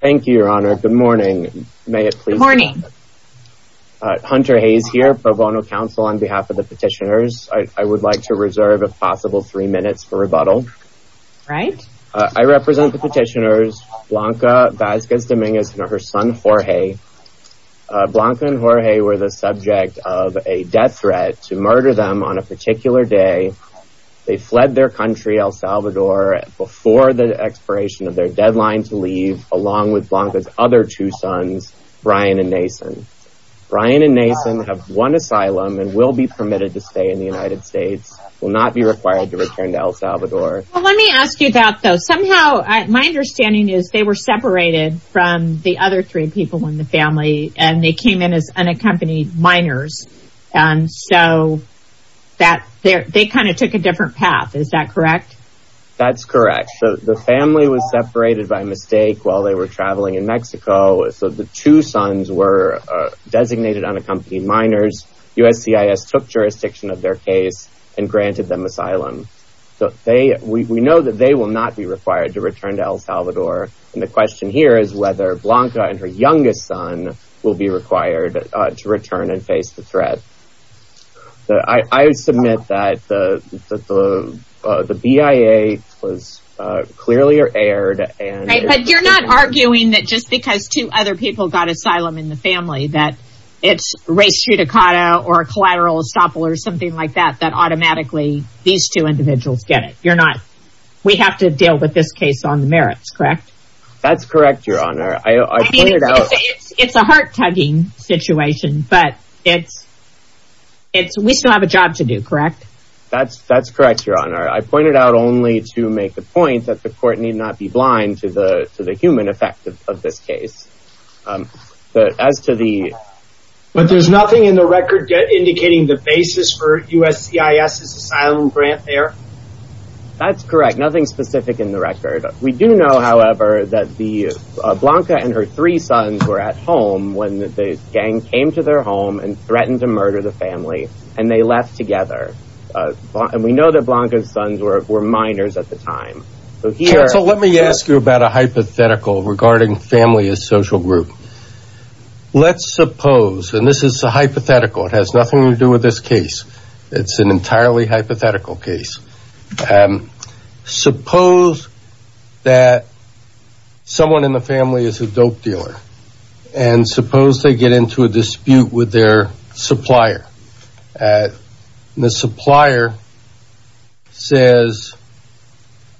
Thank you, your honor. Good morning. May it please- Good morning. Hunter Hayes here, pro bono counsel on behalf of the petitioners. I would like to reserve if possible three minutes for rebuttal. Right. I represent the petitioners Blanca Vasquez-Dominguez and her son Jorge. Blanca and Jorge were the subject of a death threat to murder them on a particular day. They fled their country, El Salvador, before the expiration of their deadline to leave. Along with Blanca's other two sons, Brian and Nason. Brian and Nason have won asylum and will be permitted to stay in the United States, will not be required to return to El Salvador. Well, let me ask you about those. Somehow, my understanding is they were separated from the other three people in the family and they came in as unaccompanied minors. And so that they kind of took a different path. Is that correct? That's correct. The family was separated by mistake while they were traveling in Mexico. So the two sons were designated unaccompanied minors. USCIS took jurisdiction of their case and granted them asylum. So we know that they will not be required to return to El Salvador. And the question here is whether Blanca and her youngest son will be required to return and face the threat. So I submit that the BIA was clearly aired. And you're not arguing that just because two other people got asylum in the family, that it's race judicata or collateral estoppel or something like that, that automatically these two individuals get it. You're not. We have to deal with this case on the merits, correct? That's correct, Your Honor. I mean, it's a heart tugging situation, but we still have a job to do, correct? That's correct, Your Honor. I pointed out only to make the point that the court need not be blind to the human effect of this case. But there's nothing in the record indicating the basis for USCIS' asylum grant there? We do know, however, that Blanca and her three sons were at home when the gang came to their home and threatened to murder the family. And they left together. And we know that Blanca's sons were minors at the time. So let me ask you about a hypothetical regarding family as social group. Let's suppose, and this is a hypothetical, it has nothing to do with this case. It's an entirely hypothetical case. And suppose that someone in the family is a dope dealer. And suppose they get into a dispute with their supplier. The supplier says,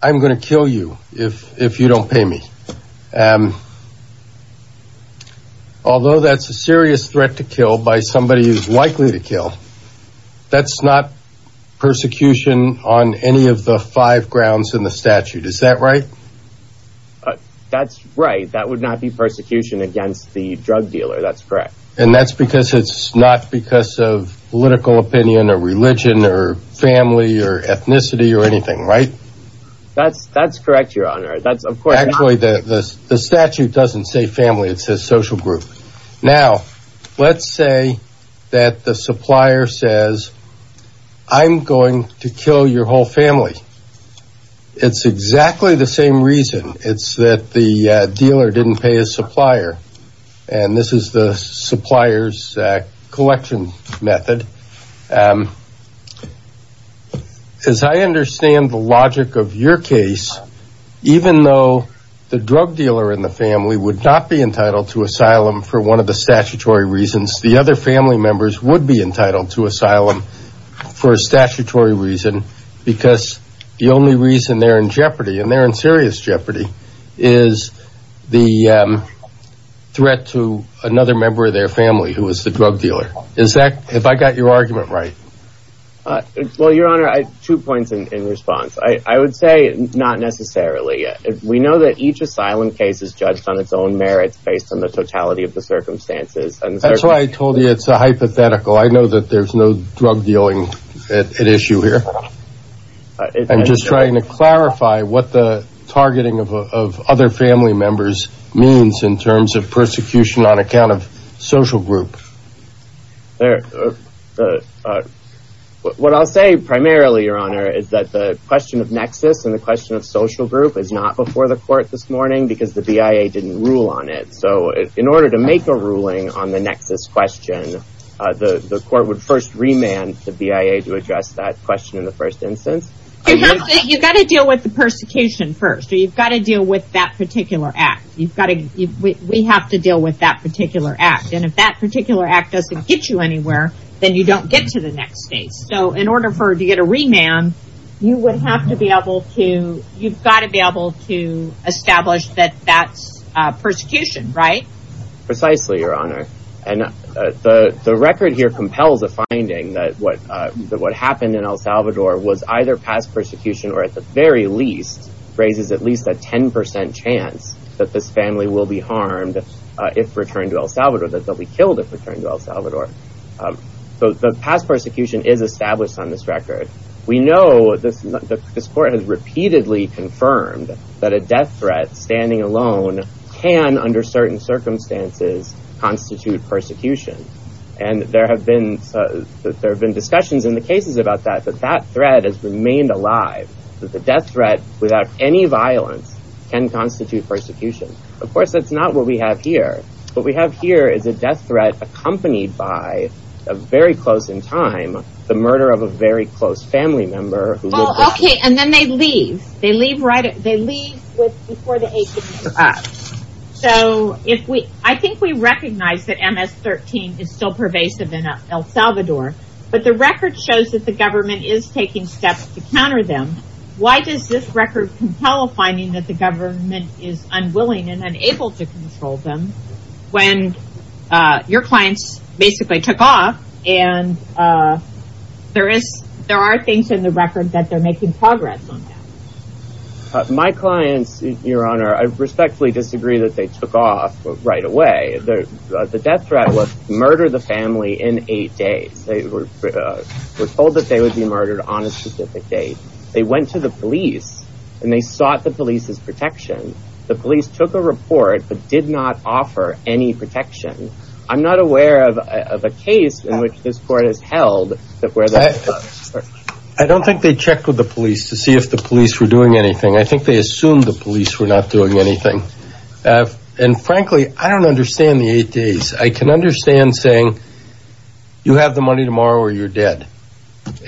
I'm going to kill you if you don't pay me. Although that's a serious threat to kill by somebody who's likely to kill, that's not persecution on any of the five grounds in the statute. Is that right? That's right. That would not be persecution against the drug dealer. That's correct. And that's because it's not because of political opinion or religion or family or ethnicity or anything, right? That's correct, Your Honor. The statute doesn't say family. It says social group. Now, let's say that the supplier says, I'm going to kill your whole family. It's exactly the same reason. It's that the dealer didn't pay his supplier. And this is the supplier's collection method. As I understand the logic of your case, even though the drug dealer in the family would not be entitled to asylum for one of the statutory reasons, the other family members would be entitled to asylum for a statutory reason, because the only reason they're in jeopardy and they're in serious jeopardy is the threat to another member of their family who is the drug dealer. Have I got your argument right? Well, Your Honor, two points in response. I would say not necessarily. We know that each asylum case is judged on its own merits based on the totality of the circumstances. That's why I told you it's a hypothetical. I know that there's no drug dealing at issue here. I'm just trying to clarify what the targeting of other family members means in terms of persecution on account of social group. There. What I'll say primarily, Your Honor, is that the question of nexus and the question of social group is not before the court this morning because the BIA didn't rule on it. So in order to make a ruling on the nexus question, the court would first remand the BIA to address that question in the first instance. You've got to deal with the persecution first. You've got to deal with that particular act. We have to deal with that particular act. And if that particular act doesn't get you anywhere, then you don't get to the next stage. So in order to get a remand, you would have to be able to, you've got to be able to establish that that's persecution, right? Precisely, Your Honor. And the record here compels a finding that what happened in El Salvador was either past persecution or at the very least raises at least a 10% chance that this family will be harmed if returned to El Salvador, that they'll be killed if returned to El Salvador. So the past persecution is established on this record. We know this court has repeatedly confirmed that a death threat standing alone can, under certain circumstances, constitute persecution. And there have been discussions in the cases about that, that that threat has remained alive, that the death threat without any violence can constitute persecution. Of course, that's not what we have here. What we have here is a death threat accompanied by, a very close in time, the murder of a very close family member. Well, okay, and then they leave. They leave right, they leave with, before the age of 18. So if we, I think we recognize that MS-13 is still pervasive in El Salvador, but the record shows that the government is taking steps to counter them. Why does this record compel a finding that the government is unwilling and unable to control them when your clients basically took off and there is, there are things in the record that they're making progress on? My clients, Your Honor, I respectfully disagree that they took off right away. The death threat was murder the family in eight days. They were told that they would be murdered on a specific date. They went to the police and they sought the police's protection. The police took a report, but did not offer any protection. I'm not aware of a case in which this court has held that where the... I don't think they checked with the police to see if the police were doing anything. I think they assumed the police were not doing anything. And frankly, I don't understand the eight days. I can understand saying, you have the money tomorrow or you're dead.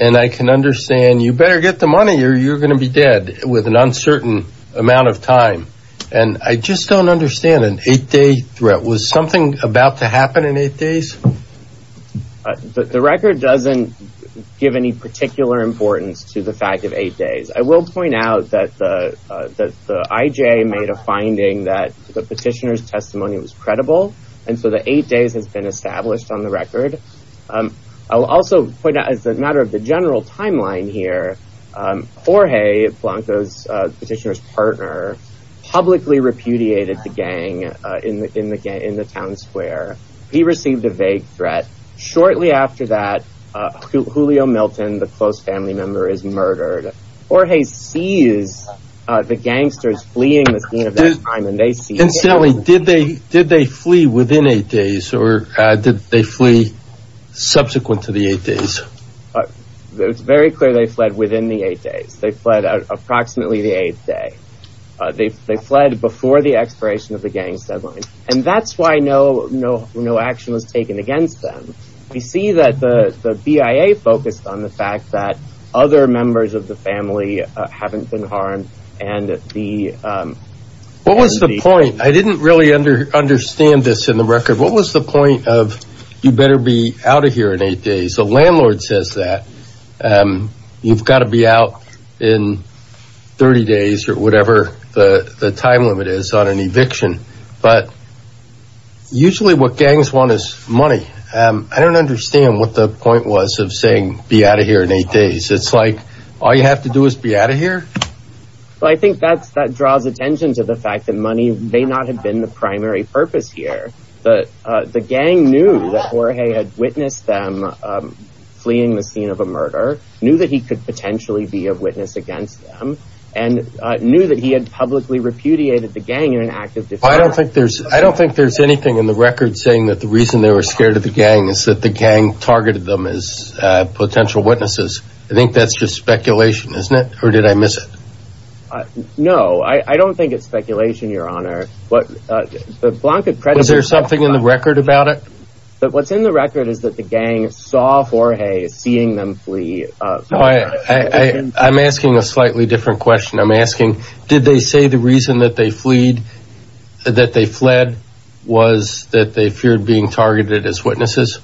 And I can understand you better get the money or you're going to be dead with an uncertain amount of time. And I just don't understand an eight day threat. Was something about to happen in eight days? The record doesn't give any particular importance to the fact of eight days. I will point out that the IJ made a finding that the petitioner's testimony was credible. And so the eight days has been established on the record. I'll also point out as a matter of the general timeline here, Jorge Blanco's petitioner's partner publicly repudiated the gang in the town square. He received a vague threat. Shortly after that, Julio Milton, the close family member, is murdered. Jorge sees the gangsters fleeing the scene of that crime and they see... Incidentally, did they flee within eight days or did they flee subsequent to the eight days? It's very clear they fled within the eight days. They fled approximately the eighth day. They fled before the expiration of the gang's deadline. And that's why no action was taken against them. We see that the BIA focused on the fact that other members of the family haven't been harmed. And the... What was the point? I didn't really understand this in the record. What was the point of you better be out of here in eight days? The landlord says that. You've got to be out in 30 days or whatever the time limit is on an eviction. But usually what gangs want is money. I don't understand what the point was of saying be out of here in eight days. It's like all you have to do is be out of here. But I think that draws attention to the fact that money may not have been the primary purpose here. But the gang knew that Jorge had witnessed them fleeing the scene of a murder. Knew that he could potentially be a witness against them. And knew that he had publicly repudiated the gang in an act of defiance. I don't think there's anything in the record saying that the reason they were scared of the gang is that the gang targeted them as potential witnesses. I think that's just speculation, isn't it? Or did I miss it? No, I don't think it's speculation, Your Honor. The Blanca Predators... Is there something in the record about it? But what's in the record is that the gang saw Jorge seeing them flee. I'm asking a slightly different question. I'm asking, did they say the reason that they fled was that they feared being targeted as witnesses?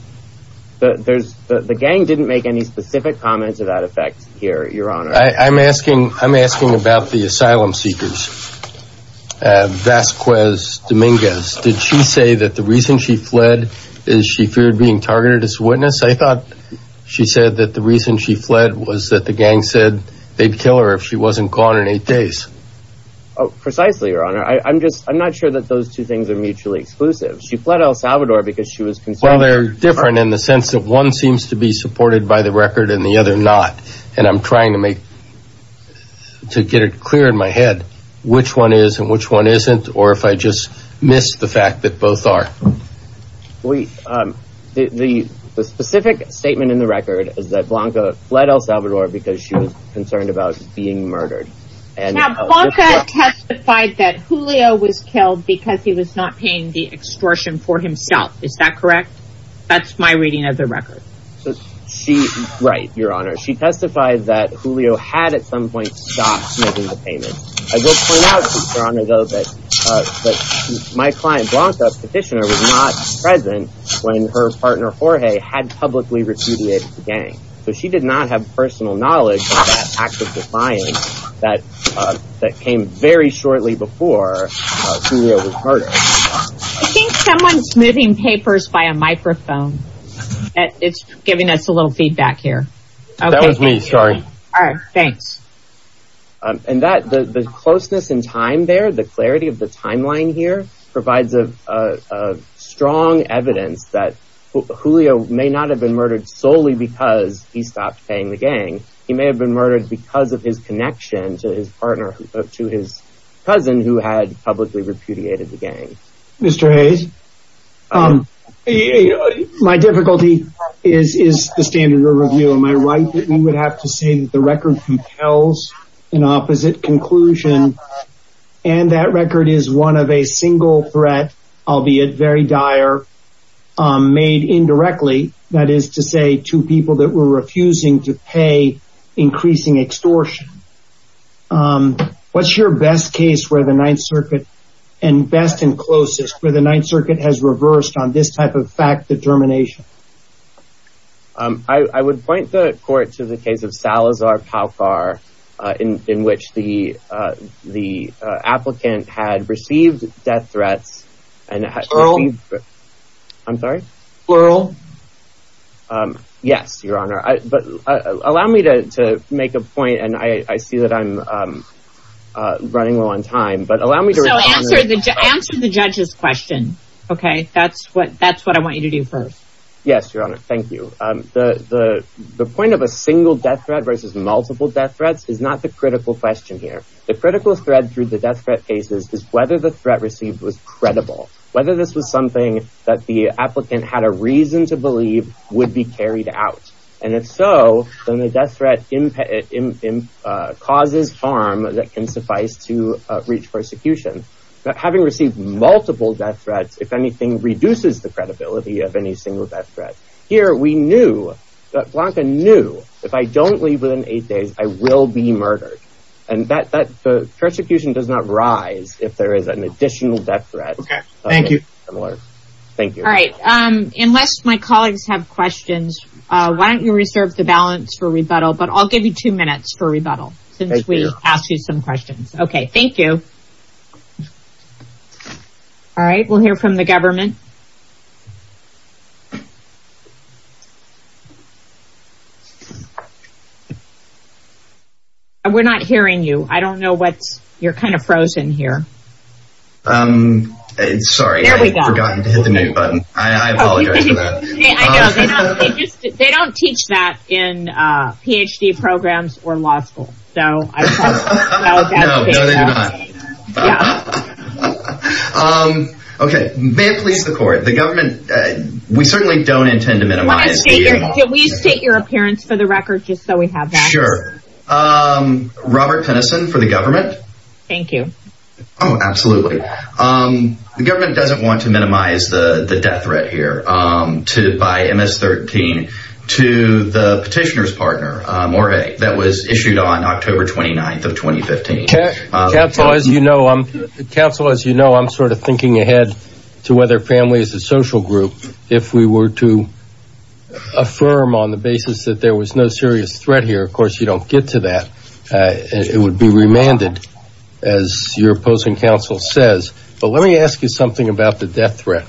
The gang didn't make any specific comments of that effect here, Your Honor. I'm asking about the asylum seekers. Vasquez Dominguez. Did she say that the reason she fled is she feared being targeted as a witness? I thought she said that the reason she fled was that the gang said they'd kill her if she wasn't gone in eight days. Precisely, Your Honor. I'm just... I'm not sure that those two things are mutually exclusive. She fled El Salvador because she was concerned... Well, they're different in the sense of one seems to be supported by the record and the other not. And I'm trying to make... To get it clear in my head which one is and which one isn't, or if I just missed the fact that both are. The specific statement in the record is that Blanca fled El Salvador because she was concerned about being murdered. Now, Blanca testified that Julio was killed because he was not paying the extortion for himself. Is that correct? That's my reading of the record. Right, Your Honor. She testified that Julio had at some point stopped making the payment. I will point out, Your Honor, though, that my client, Blanca, petitioner, was not present when her partner, Jorge, had publicly repudiated the gang. So she did not have personal knowledge of that act of defiance that came very shortly before Julio was murdered. I think someone's moving papers by a microphone. It's giving us a little feedback here. That was me, sorry. All right, thanks. And the closeness in time there, the clarity of the timeline here, provides a strong evidence that Julio may not have been murdered solely because he stopped paying the gang. He may have been murdered because of his connection to his partner, to his cousin, who had publicly repudiated the gang. Mr. Hayes, my difficulty is the standard of review. Am I right that we would have to say that the record compels an opposite conclusion and that record is one of a single threat, albeit very dire, made indirectly? That is to say, two people that were refusing to pay, increasing extortion. What's your best case where the Ninth Circuit, and best and closest, where the Ninth Circuit has reversed on this type of fact determination? I would point the court to the case of Salazar-Paukar, in which the applicant had received death threats and had received... Plural? I'm sorry? Plural? Yes, Your Honor. But allow me to make a point, and I see that I'm running low on time, but allow me to... So answer the judge's question, okay? That's what I want you to do first. Yes, Your Honor, thank you. The point of a single death threat versus multiple death threats is not the critical question here. The critical thread through the death threat cases is whether the threat received was credible, whether this was something that the applicant had a reason to believe would be carried out. And if so, then the death threat causes harm that can suffice to reach persecution. Having received multiple death threats, if anything, reduces the credibility of any single death threat. Here, we knew that Blanca knew, if I don't leave within eight days, I will be murdered. And that persecution does not rise if there is an additional death threat. Okay, thank you. Thank you. All right, unless my colleagues have questions, why don't you reserve the balance for rebuttal? But I'll give you two minutes for rebuttal, since we asked you some questions. Okay, thank you. All right, we'll hear from the government. We're not hearing you. I don't know what's... You're kind of frozen here. Um, sorry, I forgot to hit the mute button. I apologize for that. They don't teach that in PhD programs or law school. So I apologize for that. No, no, they do not. Yeah. Okay, may it please the court, the government, we certainly don't intend to minimize the... Can we state your appearance for the record, just so we have that? Sure. Robert Penison for the government. Thank you. Oh, absolutely. The government doesn't want to minimize the death threat here by MS-13 to the petitioner's October 29th of 2015. Counsel, as you know, I'm sort of thinking ahead to whether families and social group, if we were to affirm on the basis that there was no serious threat here, of course, you don't get to that. It would be remanded, as your opposing counsel says. But let me ask you something about the death threat.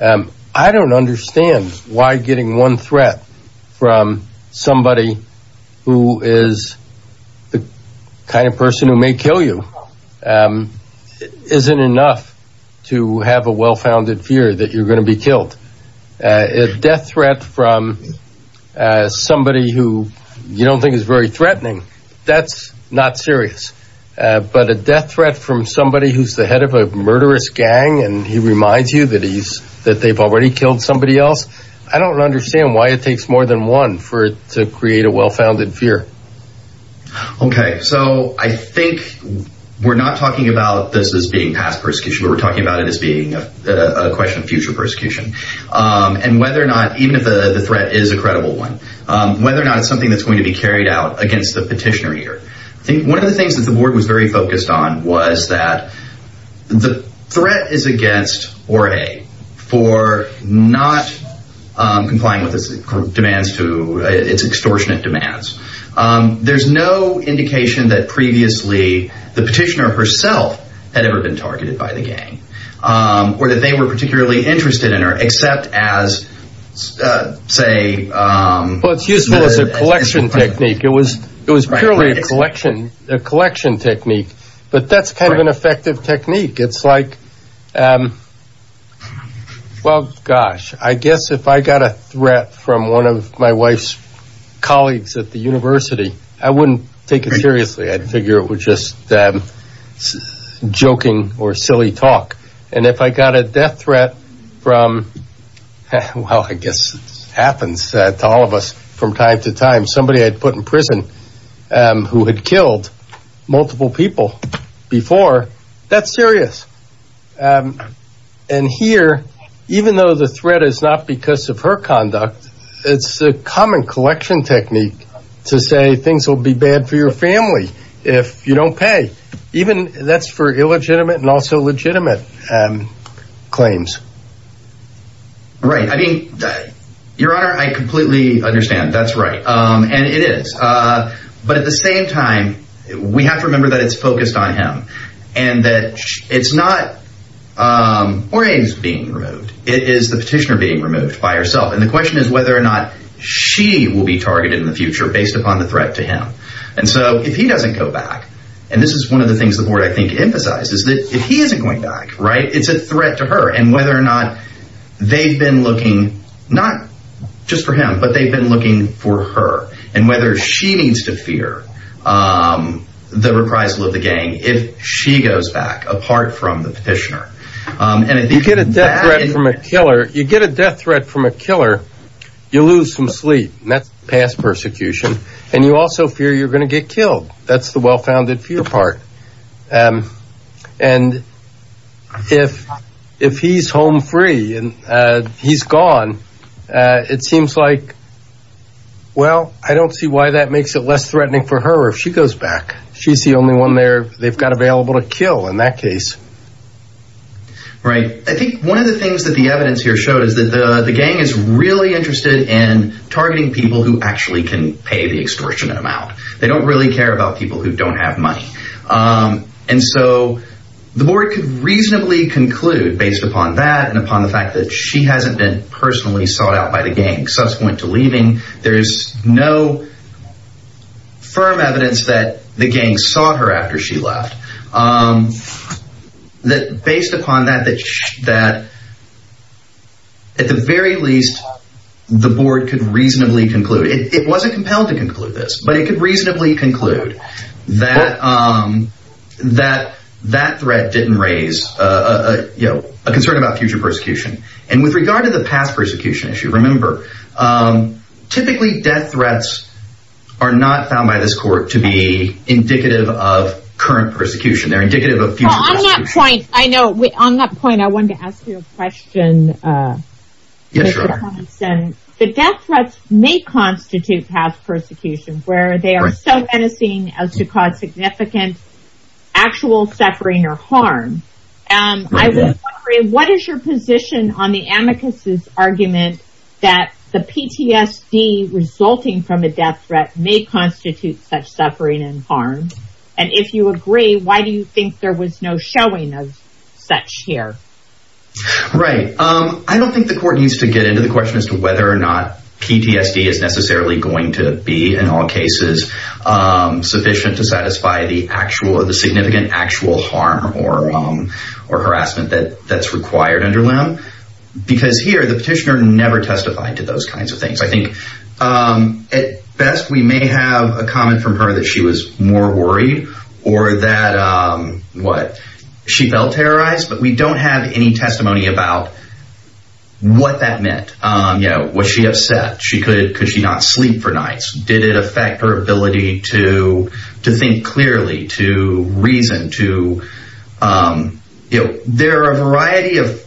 I don't understand why getting one threat from somebody who is the kind of person who may kill you isn't enough to have a well-founded fear that you're going to be killed. A death threat from somebody who you don't think is very threatening, that's not serious. But a death threat from somebody who's the head of a murderous gang, and he reminds you that they've already killed somebody else. I don't understand why it takes more than one to create a well-founded fear. Okay. So I think we're not talking about this as being past persecution. We're talking about it as being a question of future persecution, and whether or not, even if the threat is a credible one, whether or not it's something that's going to be carried out against the petitioner here. I think one of the things that the board was very focused on was that the threat is against Jorge for not complying with its extortionate demands. There's no indication that previously the petitioner herself had ever been targeted by the gang, or that they were particularly interested in her, except as, say... Well, it's useful as a collection technique. It was purely a collection technique. But that's kind of an effective technique. It's like, well, gosh, I guess if I got a threat from one of my wife's colleagues at the university, I wouldn't take it seriously. I'd figure it was just joking or silly talk. And if I got a death threat from, well, I guess it happens to all of us from time to And here, even though the threat is not because of her conduct, it's a common collection technique to say things will be bad for your family if you don't pay. Even that's for illegitimate and also legitimate claims. Right. I mean, Your Honor, I completely understand. That's right. And it is. But at the same time, we have to remember that it's focused on him. And that it's not Jorge's being removed. It is the petitioner being removed by herself. And the question is whether or not she will be targeted in the future based upon the threat to him. And so if he doesn't go back, and this is one of the things the board, I think, emphasizes that if he isn't going back, right, it's a threat to her and whether or not they've been looking not just for him, but they've been looking for her and whether she needs to fear the reprisal of the gang. If she goes back apart from the petitioner. And if you get a death threat from a killer, you get a death threat from a killer, you lose some sleep. And that's past persecution. And you also fear you're going to get killed. That's the well-founded fear part. And if he's home free and he's gone, it seems like, well, I don't see why that makes it less threatening for her if she goes back. She's the only one there they've got available to kill in that case. Right. I think one of the things that the evidence here showed is that the gang is really interested in targeting people who actually can pay the extortionate amount. They don't really care about people who don't have money. And so the board could reasonably conclude based upon that and upon the fact that she hasn't been personally sought out by the gang. Suspect went to leaving. There's no firm evidence that the gang saw her after she left. Based upon that, at the very least, the board could reasonably conclude. It wasn't compelled to conclude this, but it could reasonably conclude that that threat didn't raise a concern about future persecution. And with regard to the past persecution issue, remember, typically death threats are not found by this court to be indicative of current persecution. They're indicative of future persecution. I know on that point, I wanted to ask you a question. The death threats may constitute past persecution where they are so menacing as to cause significant actual suffering or harm. I was wondering what is your position on the amicus's argument that the PTSD resulting from a death threat may constitute such suffering and harm? And if you agree, why do you think there was no showing of such here? Right. I don't think the court needs to get into the question as to whether or not PTSD is necessarily going to be in all cases sufficient to satisfy the actual or the significant actual harm or harassment that's required under LEM. Because here, the petitioner never testified to those kinds of things. I think at best, we may have a comment from her that she was more worried or that she felt terrorized, but we don't have any testimony about what that meant. Was she upset? Could she not sleep for nights? Did it affect her ability to think clearly? To reason? There are a variety of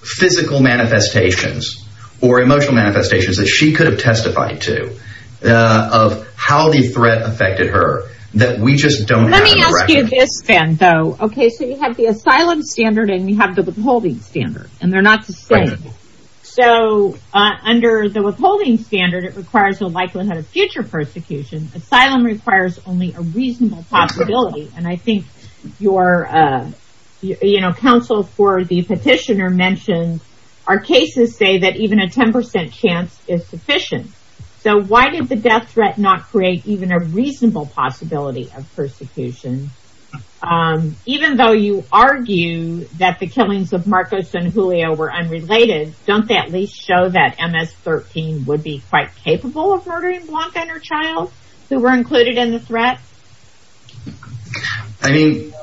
physical manifestations or emotional manifestations that she could have testified to of how the threat affected her that we just don't have. Let me ask you this, Ben, though. Okay, so you have the asylum standard and you have the withholding standard. And they're not the same. So under the withholding standard, it requires a likelihood of future persecution. Asylum requires only a reasonable possibility. And I think your counsel for the petitioner mentioned our cases say that even a 10% chance is sufficient. So why did the death threat not create even a reasonable possibility of persecution? Even though you argue that the killings of Marcos and Julio were unrelated, don't they at least show that MS-13 would be quite capable of murdering Blanca and her child who were included in the threat? I mean,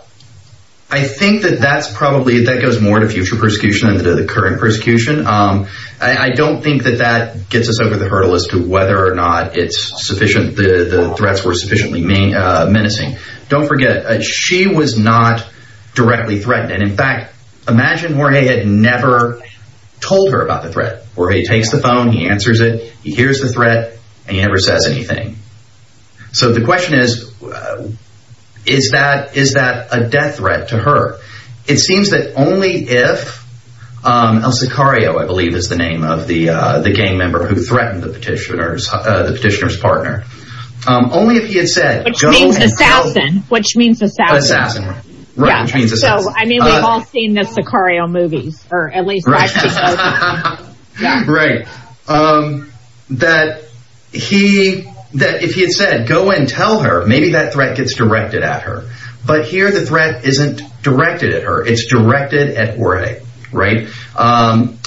I think that that's probably, that goes more to future persecution than to the current persecution. I don't think that that gets us over the hurdle as to whether or not it's sufficient, the threats were sufficiently menacing. Don't forget, she was not directly threatened. And in fact, imagine Jorge had never told her about the threat. Jorge takes the phone. He answers it. He hears the threat and he never says anything. So the question is, is that a death threat to her? It seems that only if El Sicario, I believe is the name of the gang member who threatened the petitioner's partner. Only if he had said... Which means assassin. Which means assassin. Assassin, right. Right, which means assassin. I mean, we've all seen the Sicario movies, or at least watched Sicario movies. Right. That he, that if he had said, go and tell her, maybe that threat gets directed at her. But here the threat isn't directed at her. It's directed at Jorge, right?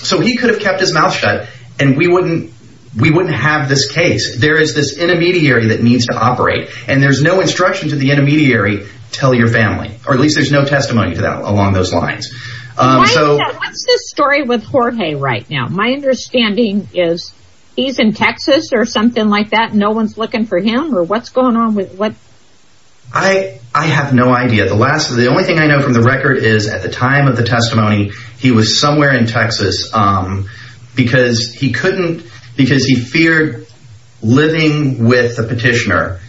So he could have kept his mouth shut and we wouldn't, we wouldn't have this case. There is this intermediary that needs to operate and there's no instruction to the intermediary, tell your family. Or at least there's no testimony to that along those lines. What's the story with Jorge right now? My understanding is he's in Texas or something like that. No one's looking for him or what's going on with what? I have no idea. The last, the only thing I know from the record is at the time of the testimony, he was somewhere in Texas because he couldn't, because he feared living with the petitioner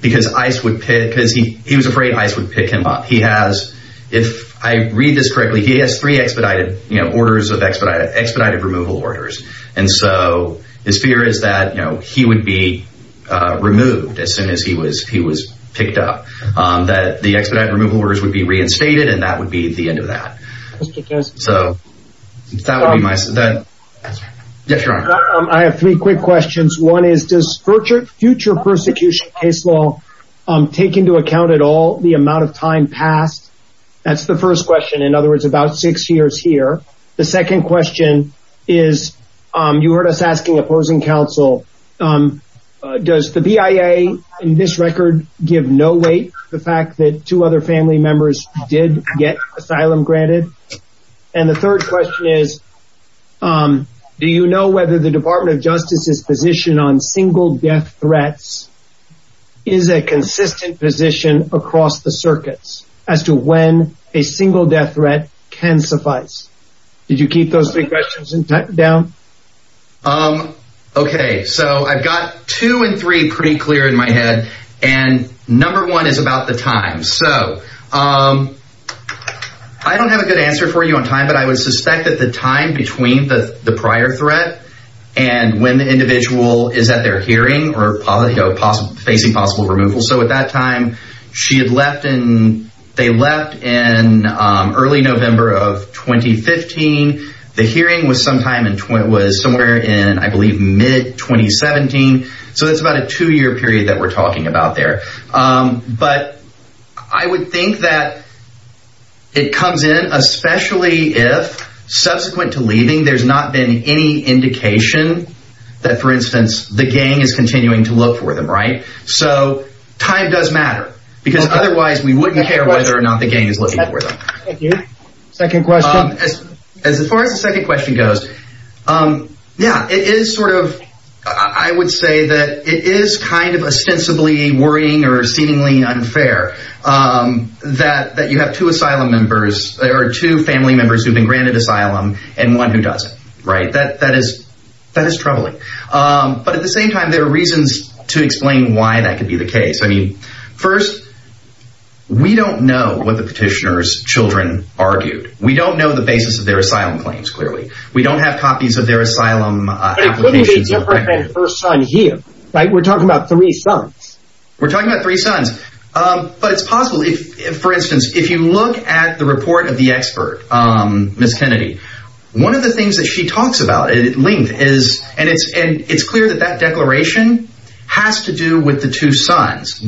because ICE would pick, because he, he was afraid ICE would pick him up. He has, if I read this correctly, he has three expedited, you know, orders of expedited, expedited removal orders. And so his fear is that, you know, he would be removed as soon as he was, he was picked up. That the expedited removal orders would be reinstated and that would be the end of that. So that would be my, yes, your honor. I have three quick questions. One is, does future persecution case law take into account at all the amount of time passed? That's the first question. In other words, about six years here. The second question is, you heard us asking opposing counsel, does the BIA in this record give no weight to the fact that two other family members did get asylum granted? And the third question is, do you know whether the Department of Justice's position on single death threats is a consistent position across the circuits as to when a single death threat can suffice? Did you keep those three questions down? Okay. So I've got two and three pretty clear in my head and number one is about the time. So I don't have a good answer for you on time, but I would suspect that the time between the prior threat and when the individual is at their hearing or facing possible removal. So at that time, she had left and they left in early November of 2015. The hearing was sometime in, it was somewhere in, I believe, mid 2017. So that's about a two year period that we're talking about there. But I would think that it comes in, especially if subsequent to leaving, there's not been any indication that, for instance, the gang is continuing to look for them, right? So time does matter because otherwise we wouldn't care whether or not the gang is looking for them. Thank you. Second question. As far as the second question goes, yeah, it is sort of, I would say that it is kind of ostensibly worrying or seemingly unfair that you have two asylum members or two family members who've been granted asylum and one who doesn't, right? That is troubling. But at the same time, there are reasons to explain why that could be the case. I mean, first, we don't know what the petitioner's children argued. We don't know the basis of their asylum claims, clearly. We don't have copies of their asylum applications. It couldn't have been her son here, right? We're talking about three sons. We're talking about three sons. But it's possible if, for instance, if you look at the report of the expert, Ms. Kennedy, one of the things that she talks about at length is, and it's clear that that declaration has to do with the two sons,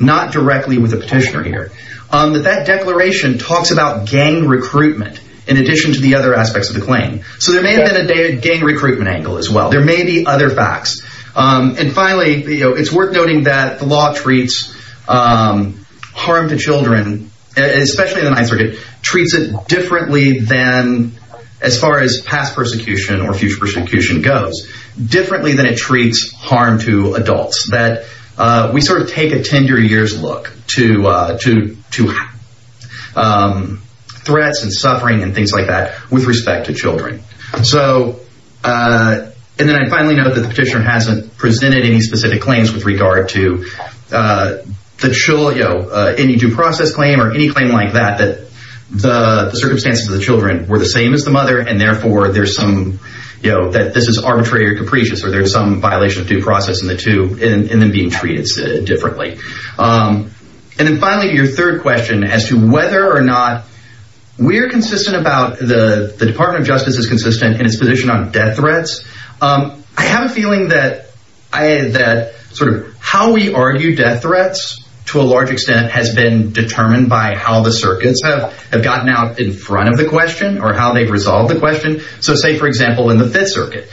not directly with the petitioner here, that that in addition to the other aspects of the claim. So there may have been a gang recruitment angle as well. There may be other facts. And finally, it's worth noting that the law treats harm to children, especially in the Ninth Circuit, treats it differently than, as far as past persecution or future persecution goes, differently than it treats harm to adults. We sort of take a 10-year year's look to threats and suffering and things like that with respect to children. And then I finally note that the petitioner hasn't presented any specific claims with regard to any due process claim or any claim like that, that the circumstances of the children were the same as the mother. And therefore, there's some, you know, that this is arbitrary or capricious or there's some violation of due process in the two and then being treated differently. And then finally, your third question as to whether or not we're consistent about the Department of Justice is consistent in its position on death threats. I have a feeling that sort of how we argue death threats to a large extent has been determined by how the circuits have gotten out in front of the question or how they've resolved the question. So say, for example, in the Fifth Circuit,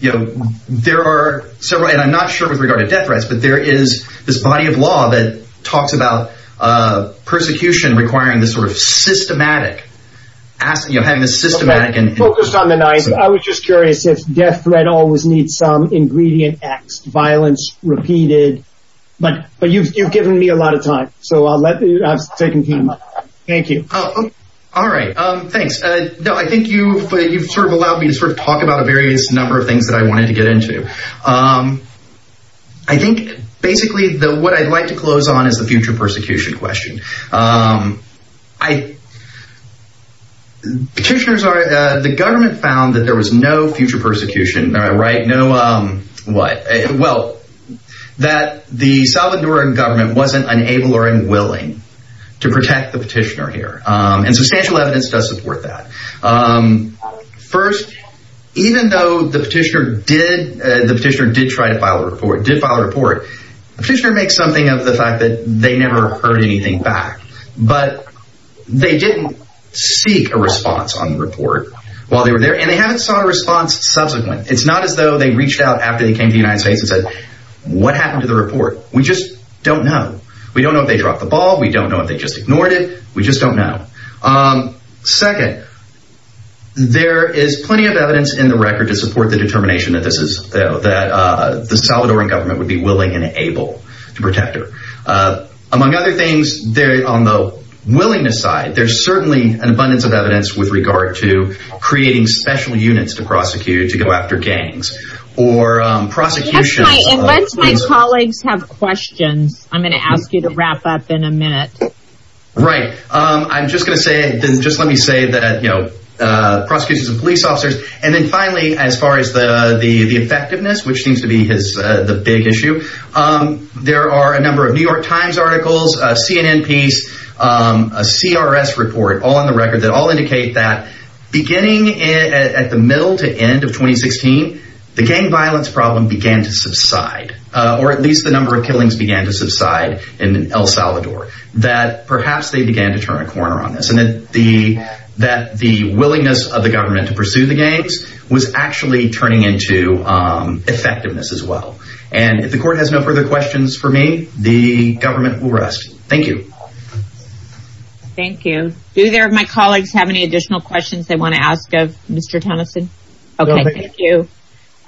you know, there are several, and I'm not sure with regard to death threats, but there is this body of law that talks about persecution requiring this sort of systematic, you know, having a systematic and- Okay, focused on the knife, I was just curious if death threat always needs some ingredient axed, violence repeated, but you've given me a lot of time. So I'll let you, I've taken time. Thank you. All right. Thanks. No, I think you've sort of allowed me to sort of talk about a various number of things that I wanted to get into. I think basically what I'd like to close on is the future persecution question. Petitioners are, the government found that there was no future persecution, right? No, what? Well, that the Salvadoran government wasn't unable or unwilling to protect the petitioner and substantial evidence does support that. First, even though the petitioner did, the petitioner did try to file a report, did file a report, the petitioner makes something of the fact that they never heard anything back, but they didn't seek a response on the report while they were there and they haven't sought a response subsequent. It's not as though they reached out after they came to the United States and said, what happened to the report? We just don't know. We don't know if they dropped the ball. We don't know if they just ignored it. We just don't know. Second, there is plenty of evidence in the record to support the determination that this is that the Salvadoran government would be willing and able to protect her. Among other things there on the willingness side, there's certainly an abundance of evidence with regard to creating special units to prosecute, to go after gangs or prosecution. Unless my colleagues have questions, I'm going to ask you to wrap up in a minute. Right. I'm just going to say, just let me say that, you know, prosecutions and police officers. And then finally, as far as the effectiveness, which seems to be the big issue, there are a number of New York Times articles, a CNN piece, a CRS report all on the record that all indicate that beginning at the middle to end of 2016, the gang violence problem began to subside, or at least the number of killings began to subside in El Salvador. That perhaps they began to turn a corner on this and that the willingness of the government to pursue the gangs was actually turning into effectiveness as well. And if the court has no further questions for me, the government will rest. Thank you. Thank you. Do any of my colleagues have any additional questions they want to ask of Mr. Tennyson? Okay, thank you.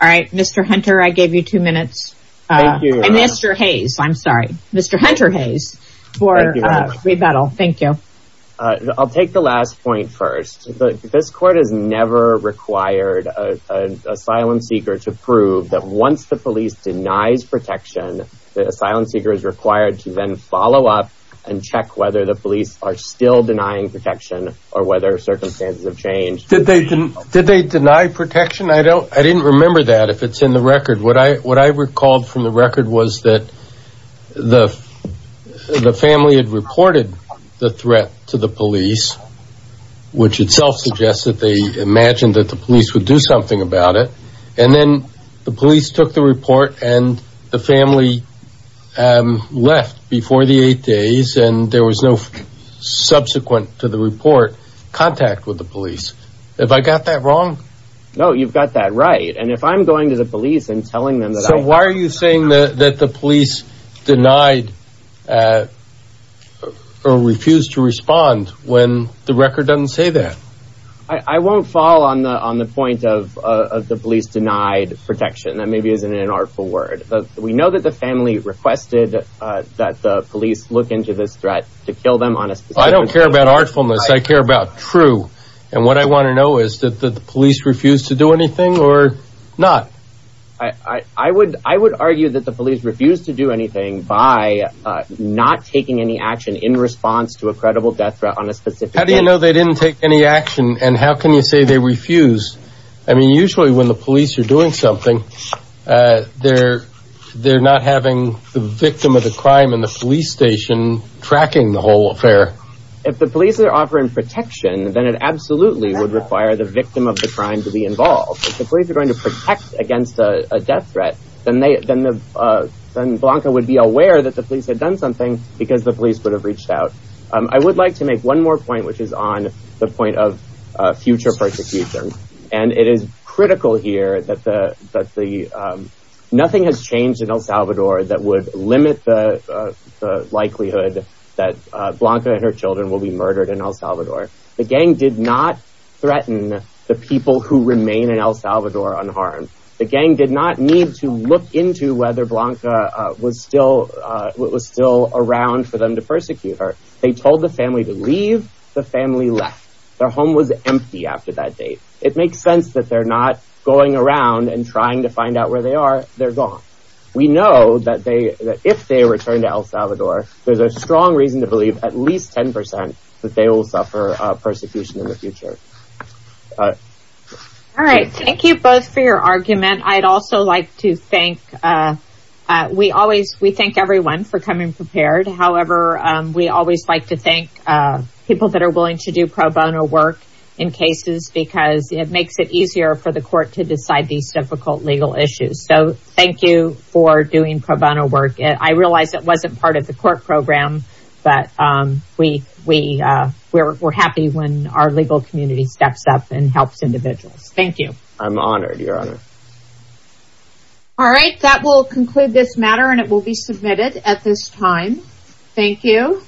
All right. Mr. Hunter, I gave you two minutes. And Mr. Hayes, I'm sorry. Mr. Hunter Hayes. I'll take the last point first. This court has never required an asylum seeker to prove that once the police denies protection, the asylum seeker is required to then follow up and check whether the police are still denying protection or whether circumstances have changed. Did they deny protection? I don't, I didn't remember that if it's in the record. What I recalled from the record was that the family had reported the threat to the police, which itself suggests that they imagined that the police would do something about it. And then the police took the report and the family left before the eight days and there was no subsequent to the report contact with the police. Have I got that wrong? No, you've got that right. And if I'm going to the police and telling them that... So why are you saying that the police denied or refused to respond when the record doesn't say that? I won't fall on the point of the police denied protection. That maybe isn't an artful word. We know that the family requested that the police look into this threat to kill them on a specific... I don't care about artfulness. I care about true. And what I want to know is that the police refused to do anything or not? I would argue that the police refused to do anything by not taking any action in response to a credible death threat on a specific... How do you know they didn't take any action? And how can you say they refused? I mean, usually when the police are doing something, they're not having the victim of the crime in the police station tracking the whole affair. If the police are offering protection, then it absolutely would require the victim of the crime to be involved. If the police are going to protect against a death threat, then Blanca would be aware that the police had done something because the police would have reached out. I would like to make one more point, which is on the point of future persecution. And it is critical here that nothing has changed in El Salvador that would limit the likelihood that Blanca and her children will be murdered in El Salvador. The gang did not threaten the people who remain in El Salvador unharmed. The gang did not need to look into whether Blanca was still around for them to persecute her. They told the family to leave. The family left. Their home was empty after that date. It makes sense that they're not going around and trying to find out where they are. They're gone. We know that if they return to El Salvador, there's a strong reason to believe at least 10% that they will suffer persecution in the future. All right. Thank you both for your argument. I'd also like to thank, we thank everyone for coming prepared. However, we always like to thank people that are willing to do pro bono work in cases because it makes it easier for the court to decide these difficult legal issues. So thank you for doing pro bono work. I realize it wasn't part of the court program, but we're happy when our legal community steps up and helps individuals. Thank you. I'm honored, Your Honor. All right. That will conclude this matter and it will be submitted at this time. Thank you.